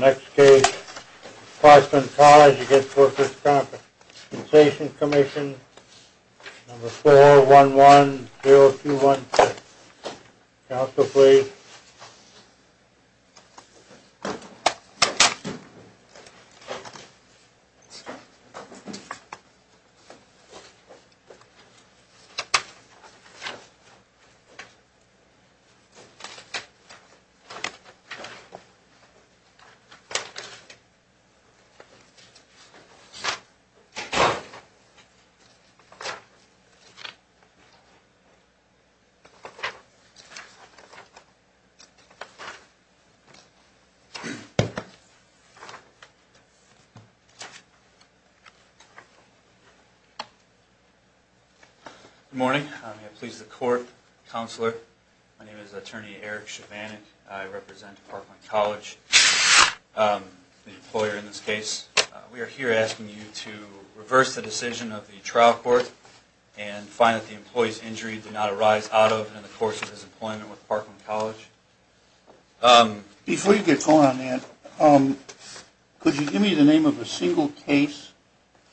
Next case, Clarkson College v. Workers' Compensation Comm'n Number 411-0216 Counsel please Good morning. I'm here to please the court. Counselor, my name is Attorney Eric Shavanick. I represent Parkland College, the employer in this case. We are here asking you to reverse the decision of the trial court and find that the employee's injury did not arise out of and in the course of his employment with Parkland College. Before you get going on that, could you give me the name of a single case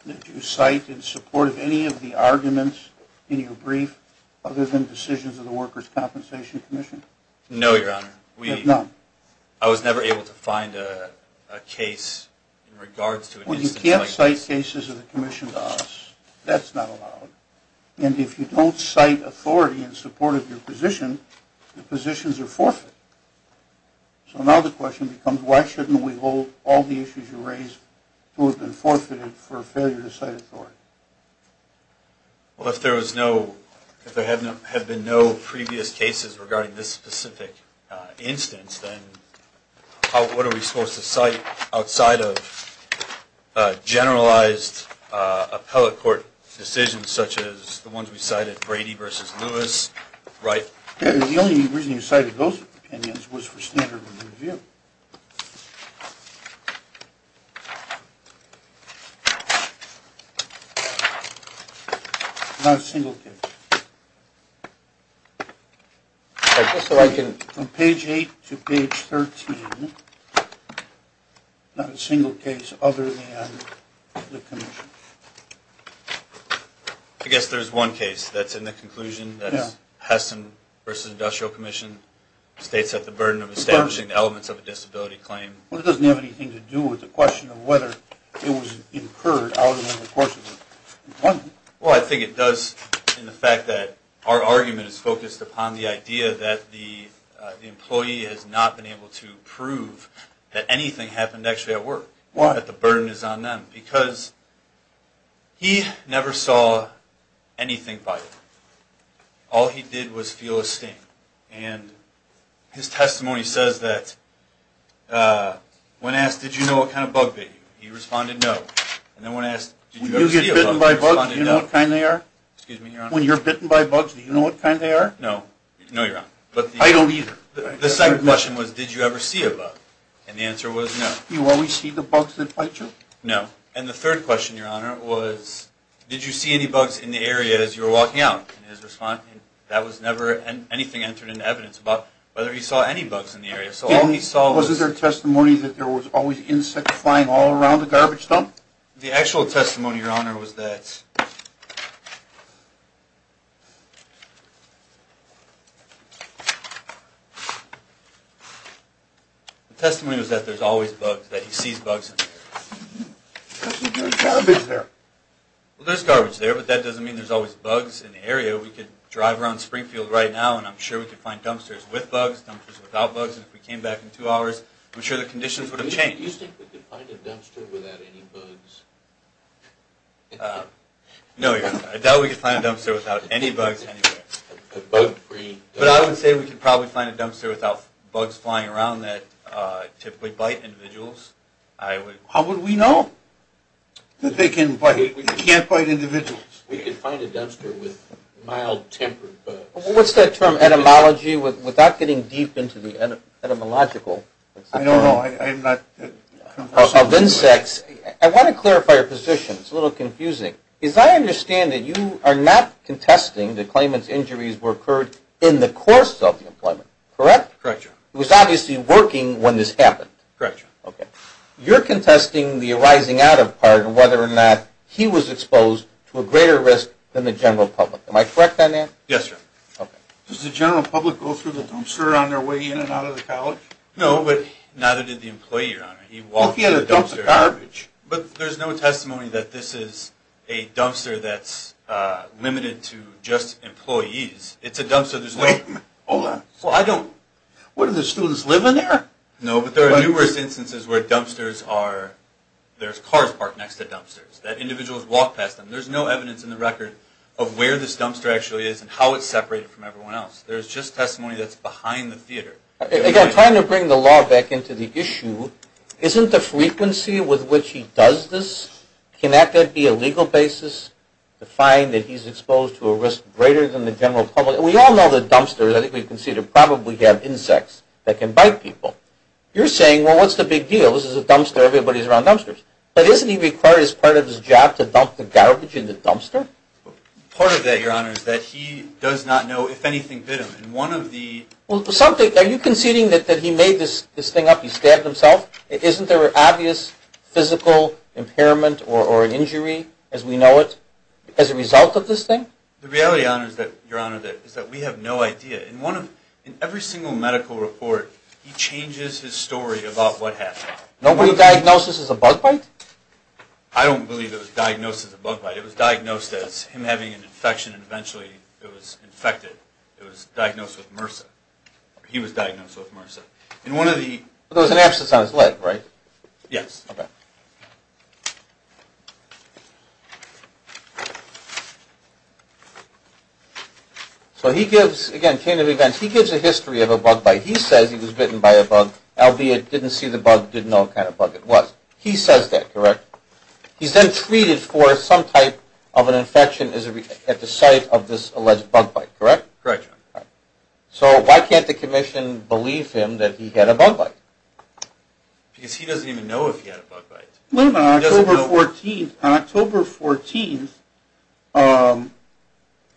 that you cite in support of any of the arguments in your brief other than decisions of the Workers' Compensation Commission? No, Your Honor. I was never able to find a case in regards to an instance like this. Well, you can't cite cases of the Commissioned Office. That's not allowed. And if you don't cite authority in support of your position, the positions are forfeited. So now the question becomes, why shouldn't we hold all the issues you raise to have been forfeited for failure to cite authority? Well, if there have been no previous cases regarding this specific instance, then what are we supposed to cite outside of generalized appellate court decisions such as the ones we cited, Brady v. Lewis, Wright? The only reason you cited those opinions was for standard of review. Not a single case. From page 8 to page 13, not a single case other than the Commission. I guess there's one case that's in the conclusion that Heston v. Industrial Commission states have the burden of establishing elements of a disability claim. Well, it doesn't have anything to do with the question of whether it was incurred out in the course of employment. Well, I think it does in the fact that our argument is focused upon the idea that the employee has not been able to prove that anything happened actually at work. Why? That the burden is on them. Because he never saw anything by it. All he did was feel a sting. And his testimony says that when asked, did you know what kind of bug bit you, he responded, no. And then when asked, did you ever see a bug, he responded, no. When you get bitten by bugs, do you know what kind they are? Excuse me, Your Honor? When you're bitten by bugs, do you know what kind they are? No. No, Your Honor. I don't either. The second question was, did you ever see a bug? And the answer was no. Do you always see the bugs that bite you? No. And the third question, Your Honor, was, did you see any bugs in the area as you were walking out? And his response, that was never anything entered into evidence about whether he saw any bugs in the area. Wasn't there testimony that there was always insects flying all around the garbage dump? The actual testimony, Your Honor, was that... The testimony was that there's always bugs, that he sees bugs in the area. But there's garbage there. Well, there's garbage there, but that doesn't mean there's always bugs in the area. We could drive around Springfield right now, and I'm sure we could find dumpsters with bugs, dumpsters without bugs. And if we came back in two hours, I'm sure the conditions would have changed. Do you think we could find a dumpster without any bugs? No, Your Honor. I doubt we could find a dumpster without any bugs anywhere. A bug-free dumpster? But I would say we could probably find a dumpster without bugs flying around that typically bite individuals. How would we know that they can't bite individuals? We could find a dumpster with mild-tempered bugs. What's that term, etymology, without getting deep into the etymological? I don't know. I'm not... Of insects. I want to clarify your position. It's a little confusing. As I understand it, you are not contesting the claimant's injuries were occurred in the course of the employment, correct? Correct, Your Honor. It was obviously working when this happened. Correct, Your Honor. You're contesting the arising out of part of whether or not he was exposed to a greater risk than the general public. Am I correct on that? Yes, sir. Does the general public go through the dumpster on their way in and out of the college? No, but neither did the employee, Your Honor. He walked through the dumpster... What if he had a dumpster garbage? But there's no testimony that this is a dumpster that's limited to just employees. It's a dumpster... Wait a minute. Hold on. Well, I don't... What, do the students live in there? No, but there are numerous instances where dumpsters are... there's cars parked next to dumpsters, that individuals walk past them. There's no evidence in the record of where this dumpster actually is and how it's separated from everyone else. There's just testimony that's behind the theater. Again, I'm trying to bring the law back into the issue. Isn't the frequency with which he does this, can that be a legal basis to find that he's exposed to a risk greater than the general public? We all know that dumpsters, I think we've conceded, probably have insects that can bite people. You're saying, well, what's the big deal? This is a dumpster. Everybody's around dumpsters. But isn't he required as part of his job to dump the garbage in the dumpster? Part of that, Your Honor, is that he does not know if anything bit him. Are you conceding that he made this thing up, he stabbed himself? Isn't there an obvious physical impairment or injury, as we know it, as a result of this thing? The reality, Your Honor, is that we have no idea. In every single medical report, he changes his story about what happened. Nobody diagnosed this as a bug bite? I don't believe it was diagnosed as a bug bite. It was diagnosed as him having an infection and eventually it was infected. It was diagnosed with MRSA. He was diagnosed with MRSA. There was an abscess on his leg, right? Yes. So he gives, again, came to the event, he gives a history of a bug bite. He says he was bitten by a bug, albeit didn't see the bug, didn't know what kind of bug it was. He says that, correct? He's then treated for some type of an infection at the site of this alleged bug bite, correct? Correct, Your Honor. So why can't the Commission believe him that he had a bug bite? Because he doesn't even know if he had a bug bite. On October 14th,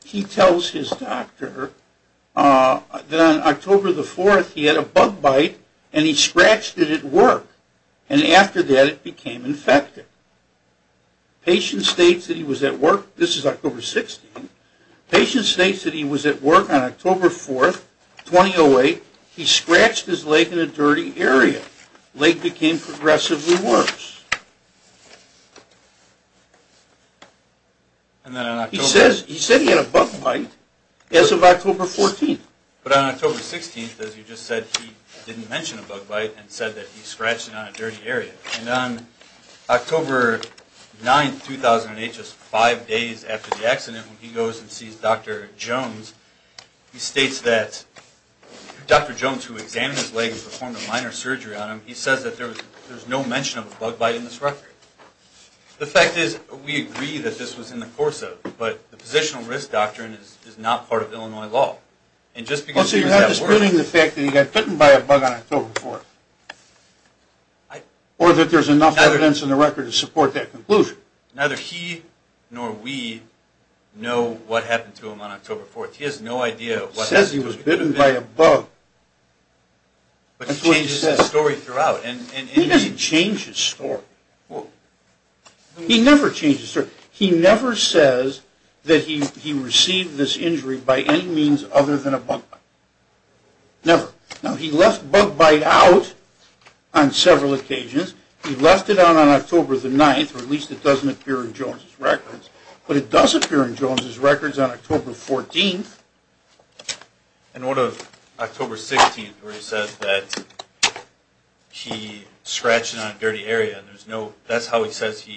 he tells his doctor that on October 4th he had a bug bite and he scratched it at work. And after that it became infected. The patient states that he was at work, this is October 16th. The patient states that he was at work on October 4th, 2008. He scratched his leg in a dirty area. The leg became progressively worse. He says he had a bug bite as of October 14th. But on October 16th, as you just said, he didn't mention a bug bite and said that he scratched it on a dirty area. And on October 9th, 2008, just five days after the accident, when he goes and sees Dr. Jones, he states that Dr. Jones, who examined his leg and performed a minor surgery on him, he says that there was no mention of a bug bite in this record. The fact is, we agree that this was in the course of, but the positional risk doctrine is not part of Illinois law. And just because he was at work. You're disputing the fact that he got bitten by a bug on October 4th. Or that there's enough evidence in the record to support that conclusion. Neither he nor we know what happened to him on October 4th. He has no idea what happened. He says he was bitten by a bug. But he changes his story throughout. He doesn't change his story. He never changes his story. He never says that he received this injury by any means other than a bug bite. Never. Now, he left bug bite out on several occasions. He left it out on October 9th, or at least it doesn't appear in Jones' records. But it does appear in Jones' records on October 14th. In order of October 16th, where he says that he scratched it on a dirty area. And that's how he says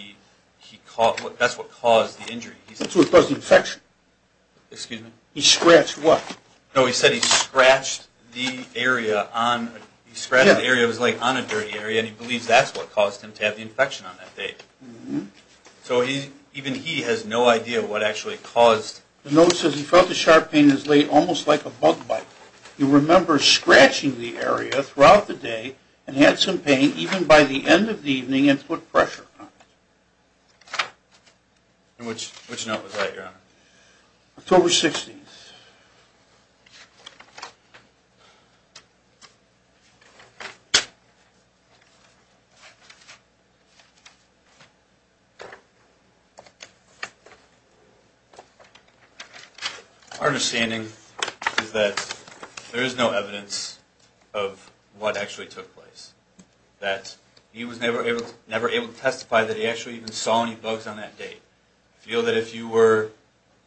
that's what caused the injury. So it was an infection. Excuse me? He scratched what? No, he said he scratched the area. He scratched the area of his leg on a dirty area. And he believes that's what caused him to have the infection on that day. So even he has no idea what actually caused. The note says he felt the sharp pain in his leg almost like a bug bite. He remembers scratching the area throughout the day and had some pain. And he said he scratched it even by the end of the evening and put pressure on it. And which note was that, Your Honor? October 16th. Our understanding is that there is no evidence of what actually took place. That he was never able to testify that he actually even saw any bugs on that day. I feel that if you were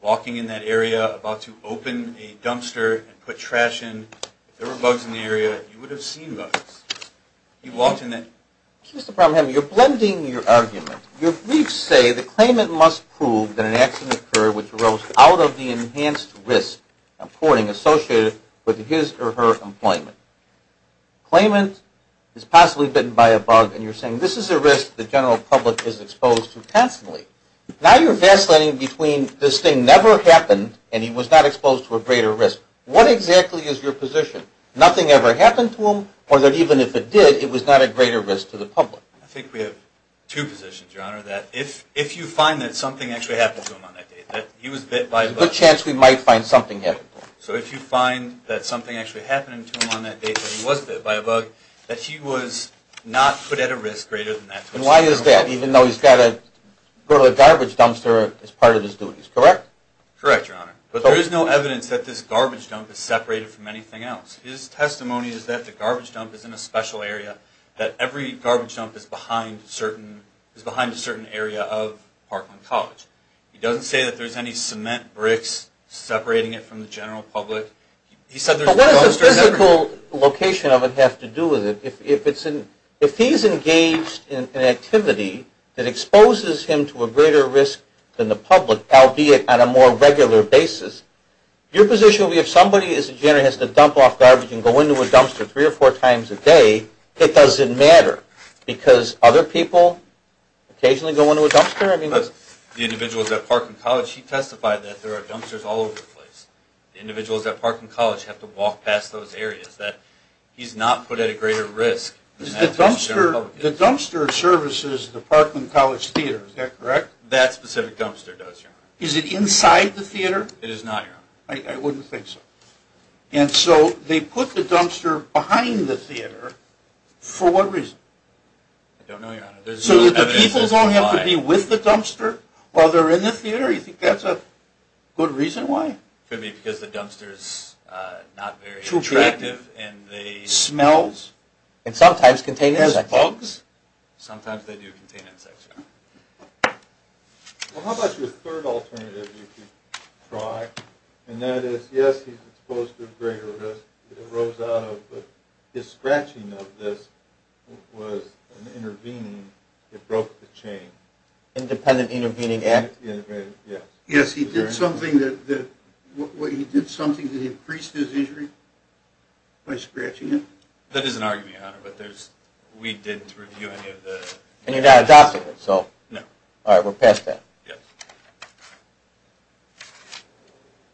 walking in that area about to open a dumpster and put trash in, if there were bugs in the area, you would have seen bugs. You walked in that. Mr. Bromham, you're blending your argument. Your briefs say the claimant must prove that an accident occurred which arose out of the enhanced risk, I'm quoting, associated with his or her employment. Claimant is possibly bitten by a bug and you're saying this is a risk the general public is exposed to constantly. Now you're vacillating between this thing never happened and he was not exposed to a greater risk. What exactly is your position? Nothing ever happened to him or that even if it did, it was not a greater risk to the public. I think we have two positions, Your Honor. That if you find that something actually happened to him on that day, that he was bit by a bug. There's a good chance we might find something happened to him. So if you find that something actually happened to him on that day, that he was bit by a bug, that he was not put at a risk greater than that. And why is that? Even though he's got to go to the garbage dumpster as part of his duties, correct? Correct, Your Honor. There is no evidence that this garbage dump is separated from anything else. His testimony is that the garbage dump is in a special area, that every garbage dump is behind a certain area of Parkland College. He doesn't say that there's any cement bricks separating it from the general public. What does the physical location of it have to do with it? If he's engaged in an activity that exposes him to a greater risk than the public, albeit on a more regular basis, your position would be if somebody has to dump off garbage and go into a dumpster three or four times a day, it doesn't matter because other people occasionally go into a dumpster. The individuals at Parkland College, he testified that there are dumpsters all over the place. Individuals at Parkland College have to walk past those areas. He's not put at a greater risk than the general public. The dumpster services the Parkland College Theater, is that correct? That specific dumpster does, Your Honor. Is it inside the theater? It is not, Your Honor. I wouldn't think so. And so they put the dumpster behind the theater for what reason? I don't know, Your Honor. So the people don't have to be with the dumpster while they're in the theater? You think that's a good reason why? Could be because the dumpster's not very attractive and they... Smells? And sometimes contain insects. And bugs? Sometimes they do contain insects, Your Honor. Well, how about your third alternative, if you could try? And that is, yes, he's exposed to a greater risk than it arose out of, but his scratching of this was an intervening that broke the chain. Independent intervening act? Yes. Yes, he did something that increased his injury by scratching it? That is an argument, Your Honor, but we didn't review any of the... And you're not adopting it, so... No. All right, we're past that. Yes.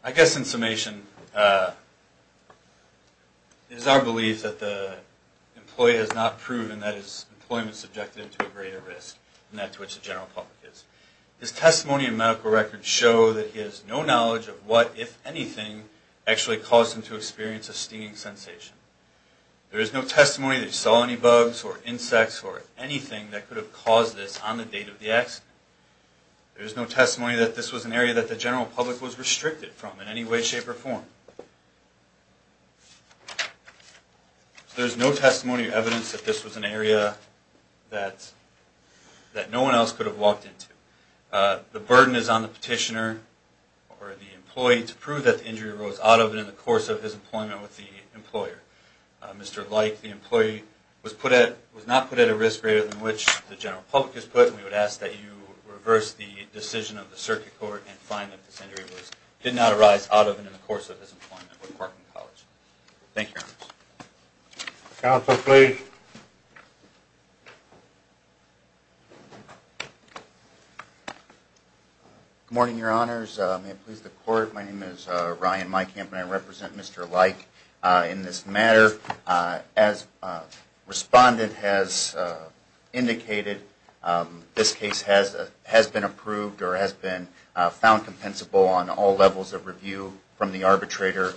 I guess in summation, it is our belief that the employee has not proven that his employment is subjected to a greater risk than that to which the general public is. His testimony and medical records show that he has no knowledge of what, if anything, actually caused him to experience a stinging sensation. There is no testimony that he saw any bugs or insects or anything that could have caused this on the date of the accident. There is no testimony that this was an area that the general public was restricted from in any way, shape, or form. There is no testimony or evidence that this was an area that no one else could have walked into. The burden is on the petitioner or the employee to prove that the injury arose out of and in the course of his employment with the employer. Mr. Light, the employee, was not put at a risk greater than which the general public is put, and we would ask that you reverse the decision of the circuit court and find that this injury did not arise out of and in the course of his employment with Parkland College. Thank you, Your Honor. Counsel, please. Good morning, Your Honors. May it please the Court, my name is Ryan Meikamp and I represent Mr. Light in this matter. As the respondent has indicated, this case has been approved or has been found compensable on all levels of review, from the arbitrator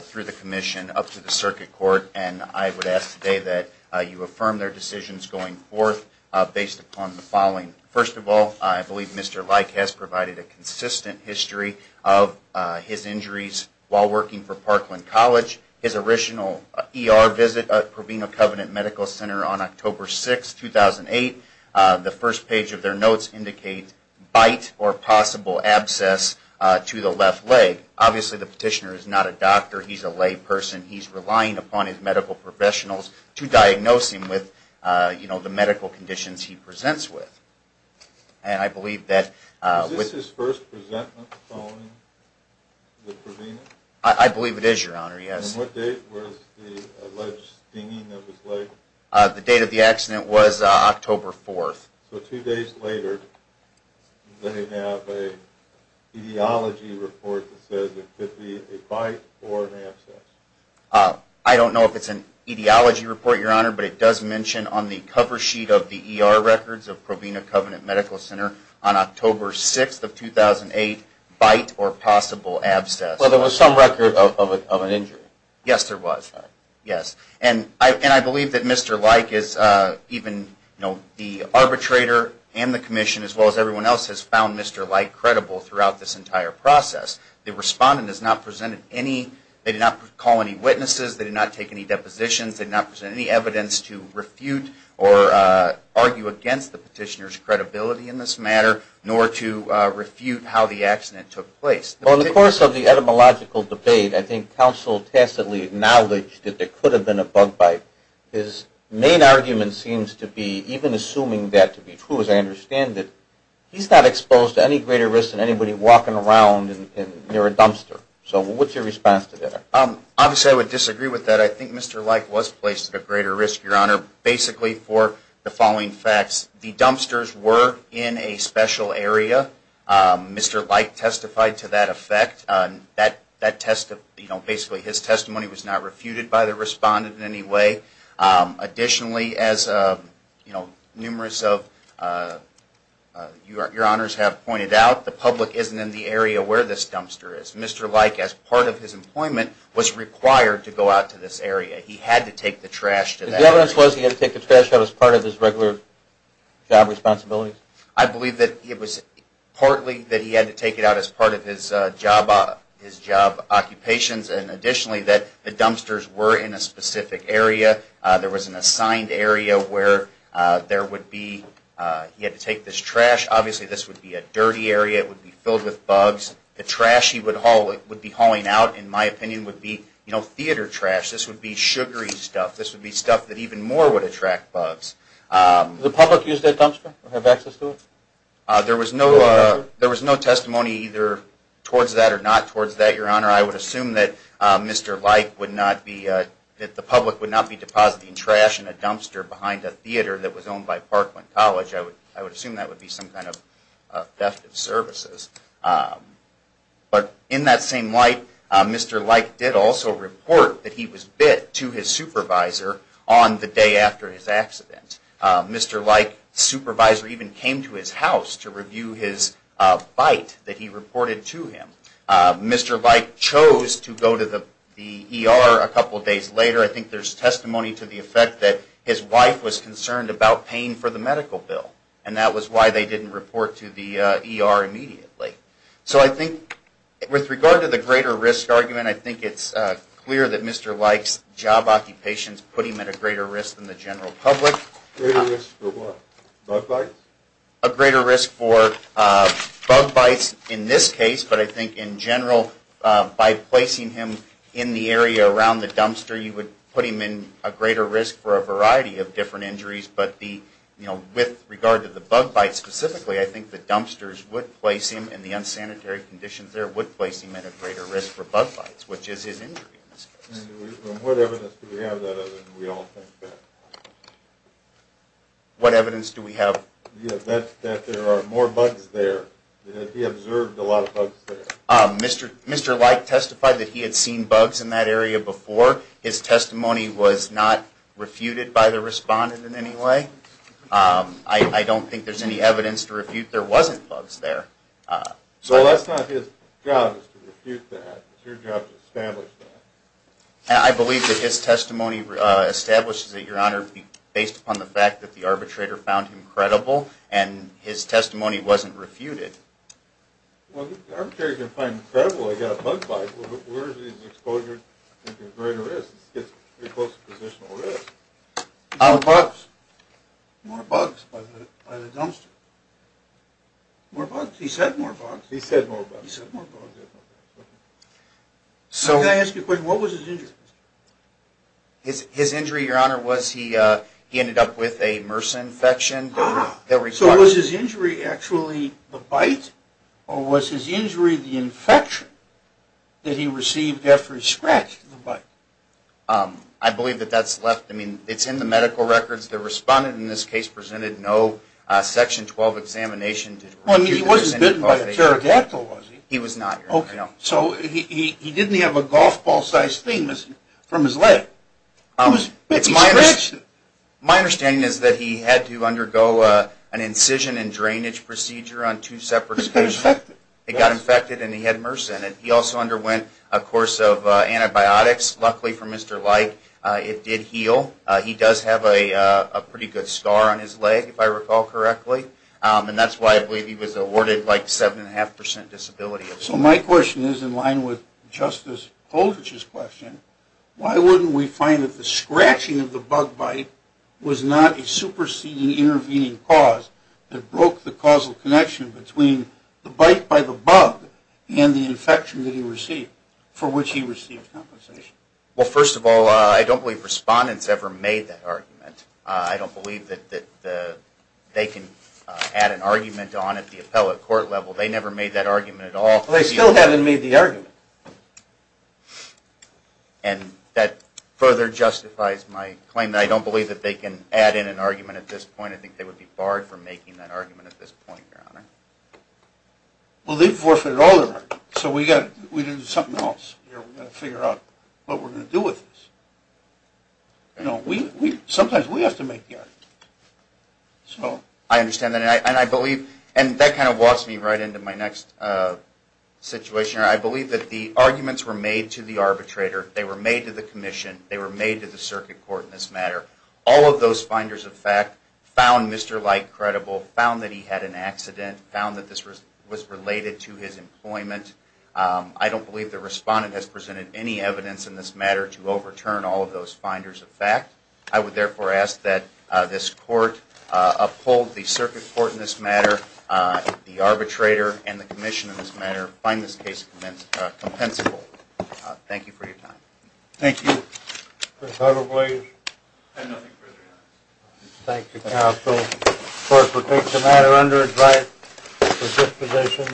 through the commission up to the circuit court, and I would ask today that you affirm their decisions going forth based upon the following. First of all, I believe Mr. Light has provided a consistent history of his injuries while working for Parkland College. His original ER visit at Proveno Covenant Medical Center on October 6, 2008, the first page of their notes indicates bite or possible abscess to the left leg. Obviously, the petitioner is not a doctor, he's a layperson. He's relying upon his medical professionals to diagnose him with the medical conditions he presents with. Is this his first presentment following the Proveno? I believe it is, Your Honor, yes. And what date was the alleged stinging that was laid? The date of the accident was October 4. So two days later, they have an etiology report that says it could be a bite or an abscess. I don't know if it's an etiology report, Your Honor, but it does mention on the cover sheet of the ER records of Proveno Covenant Medical Center on October 6, 2008, bite or possible abscess. Well, there was some record of an injury. Yes, there was. And I believe that Mr. Leik is even the arbitrator and the commission, as well as everyone else, has found Mr. Leik credible throughout this entire process. The respondent has not presented any, they did not call any witnesses, they did not take any depositions, they did not present any evidence to refute or argue against the petitioner's credibility in this matter, nor to refute how the accident took place. Well, in the course of the etymological debate, I think counsel tacitly acknowledged that there could have been a bug bite. His main argument seems to be, even assuming that to be true, as I understand it, he's not exposed to any greater risk than anybody walking around near a dumpster. So what's your response to that? Obviously, I would disagree with that. I think Mr. Leik was placed at a greater risk, Your Honor, basically for the following facts. The dumpsters were in a special area. Mr. Leik testified to that effect. Basically, his testimony was not refuted by the respondent in any way. Additionally, as numerous of Your Honors have pointed out, the public isn't in the area where this dumpster is. Mr. Leik, as part of his employment, was required to go out to this area. He had to take the trash to that area. The evidence was he had to take the trash out as part of his regular job responsibilities? I believe that it was partly that he had to take it out as part of his job occupations and additionally that the dumpsters were in a specific area. There was an assigned area where he had to take this trash. Obviously, this would be a dirty area. It would be filled with bugs. The trash he would be hauling out, in my opinion, would be theater trash. This would be sugary stuff. This would be stuff that even more would attract bugs. Did the public use that dumpster or have access to it? There was no testimony either towards that or not towards that, Your Honor. I would assume that Mr. Leik would not be depositing trash in a dumpster behind a theater that was owned by Parkland College. I would assume that would be some kind of theft of services. But in that same light, Mr. Leik did also report that he was bit to his supervisor on the day after his accident. Mr. Leik's supervisor even came to his house to review his bite that he reported to him. Mr. Leik chose to go to the ER a couple of days later. I think there's testimony to the effect that his wife was concerned about paying for the medical bill, and that was why they didn't report to the ER immediately. So I think with regard to the greater risk argument, I think it's clear that Mr. Leik's job occupation is putting him at a greater risk than the general public. Greater risk for what? Bug bites? A greater risk for bug bites in this case, but I think in general, by placing him in the area around the dumpster, you would put him in a greater risk for a variety of different injuries. But with regard to the bug bites specifically, I think the dumpsters would place him in the unsanitary conditions there and it would place him at a greater risk for bug bites, which is his injury in this case. And what evidence do we have that we all think that? What evidence do we have? That there are more bugs there. That he observed a lot of bugs there. Mr. Leik testified that he had seen bugs in that area before. His testimony was not refuted by the respondent in any way. I don't think there's any evidence to refute there wasn't bugs there. So that's not his job is to refute that. It's your job to establish that. I believe that his testimony establishes that, Your Honor, based upon the fact that the arbitrator found him credible and his testimony wasn't refuted. Well, the arbitrator can find him credible. He got a bug bite. Where is his exposure to greater risk? It's pretty close to positional risk. More bugs. More bugs by the dumpster. More bugs. He said more bugs. He said more bugs. He said more bugs. Can I ask you a question? What was his injury? His injury, Your Honor, was he ended up with a MRSA infection. So was his injury actually the bite or was his injury the infection that he received after he scratched the bite? I believe that that's left. I mean, it's in the medical records. The respondent in this case presented no Section 12 examination. He wasn't bitten by a pterodactyl, was he? He was not, Your Honor. Okay. So he didn't have a golf ball-sized thing from his leg. He was bitten by a rat. My understanding is that he had to undergo an incision and drainage procedure on two separate occasions. It got infected. It got infected and he had MRSA in it. He also underwent a course of antibiotics. Luckily for Mr. Leick, it did heal. He does have a pretty good scar on his leg, if I recall correctly, and that's why I believe he was awarded like 7.5% disability. So my question is in line with Justice Polich's question, why wouldn't we find that the scratching of the bug bite was not a superseding intervening cause that broke the causal connection between the bite by the bug and the infection that he received for which he received compensation? Well, first of all, I don't believe respondents ever made that argument. I don't believe that they can add an argument on at the appellate court level. They never made that argument at all. Well, they still haven't made the argument. And that further justifies my claim that I don't believe that they can add in an argument at this point. I think they would be barred from making that argument at this point, Your Honor. Well, they've forfeited all their argument. So we've got to do something else. We've got to figure out what we're going to do with this. Sometimes we have to make the argument. I understand that. And I believe, and that kind of walks me right into my next situation, Your Honor. I believe that the arguments were made to the arbitrator, they were made to the commission, they were made to the circuit court in this matter. All of those finders of fact found Mr. Light credible, found that he had an accident, found that this was related to his employment. I don't believe the respondent has presented any evidence in this matter to overturn all of those finders of fact. I would therefore ask that this court uphold the circuit court in this matter, the arbitrator, and the commission in this matter, find this case compensable. Thank you for your time. Thank you. Mr. Carver, please. And nothing further, Your Honor. Thank you, counsel. The court will take the matter under its right for disposition.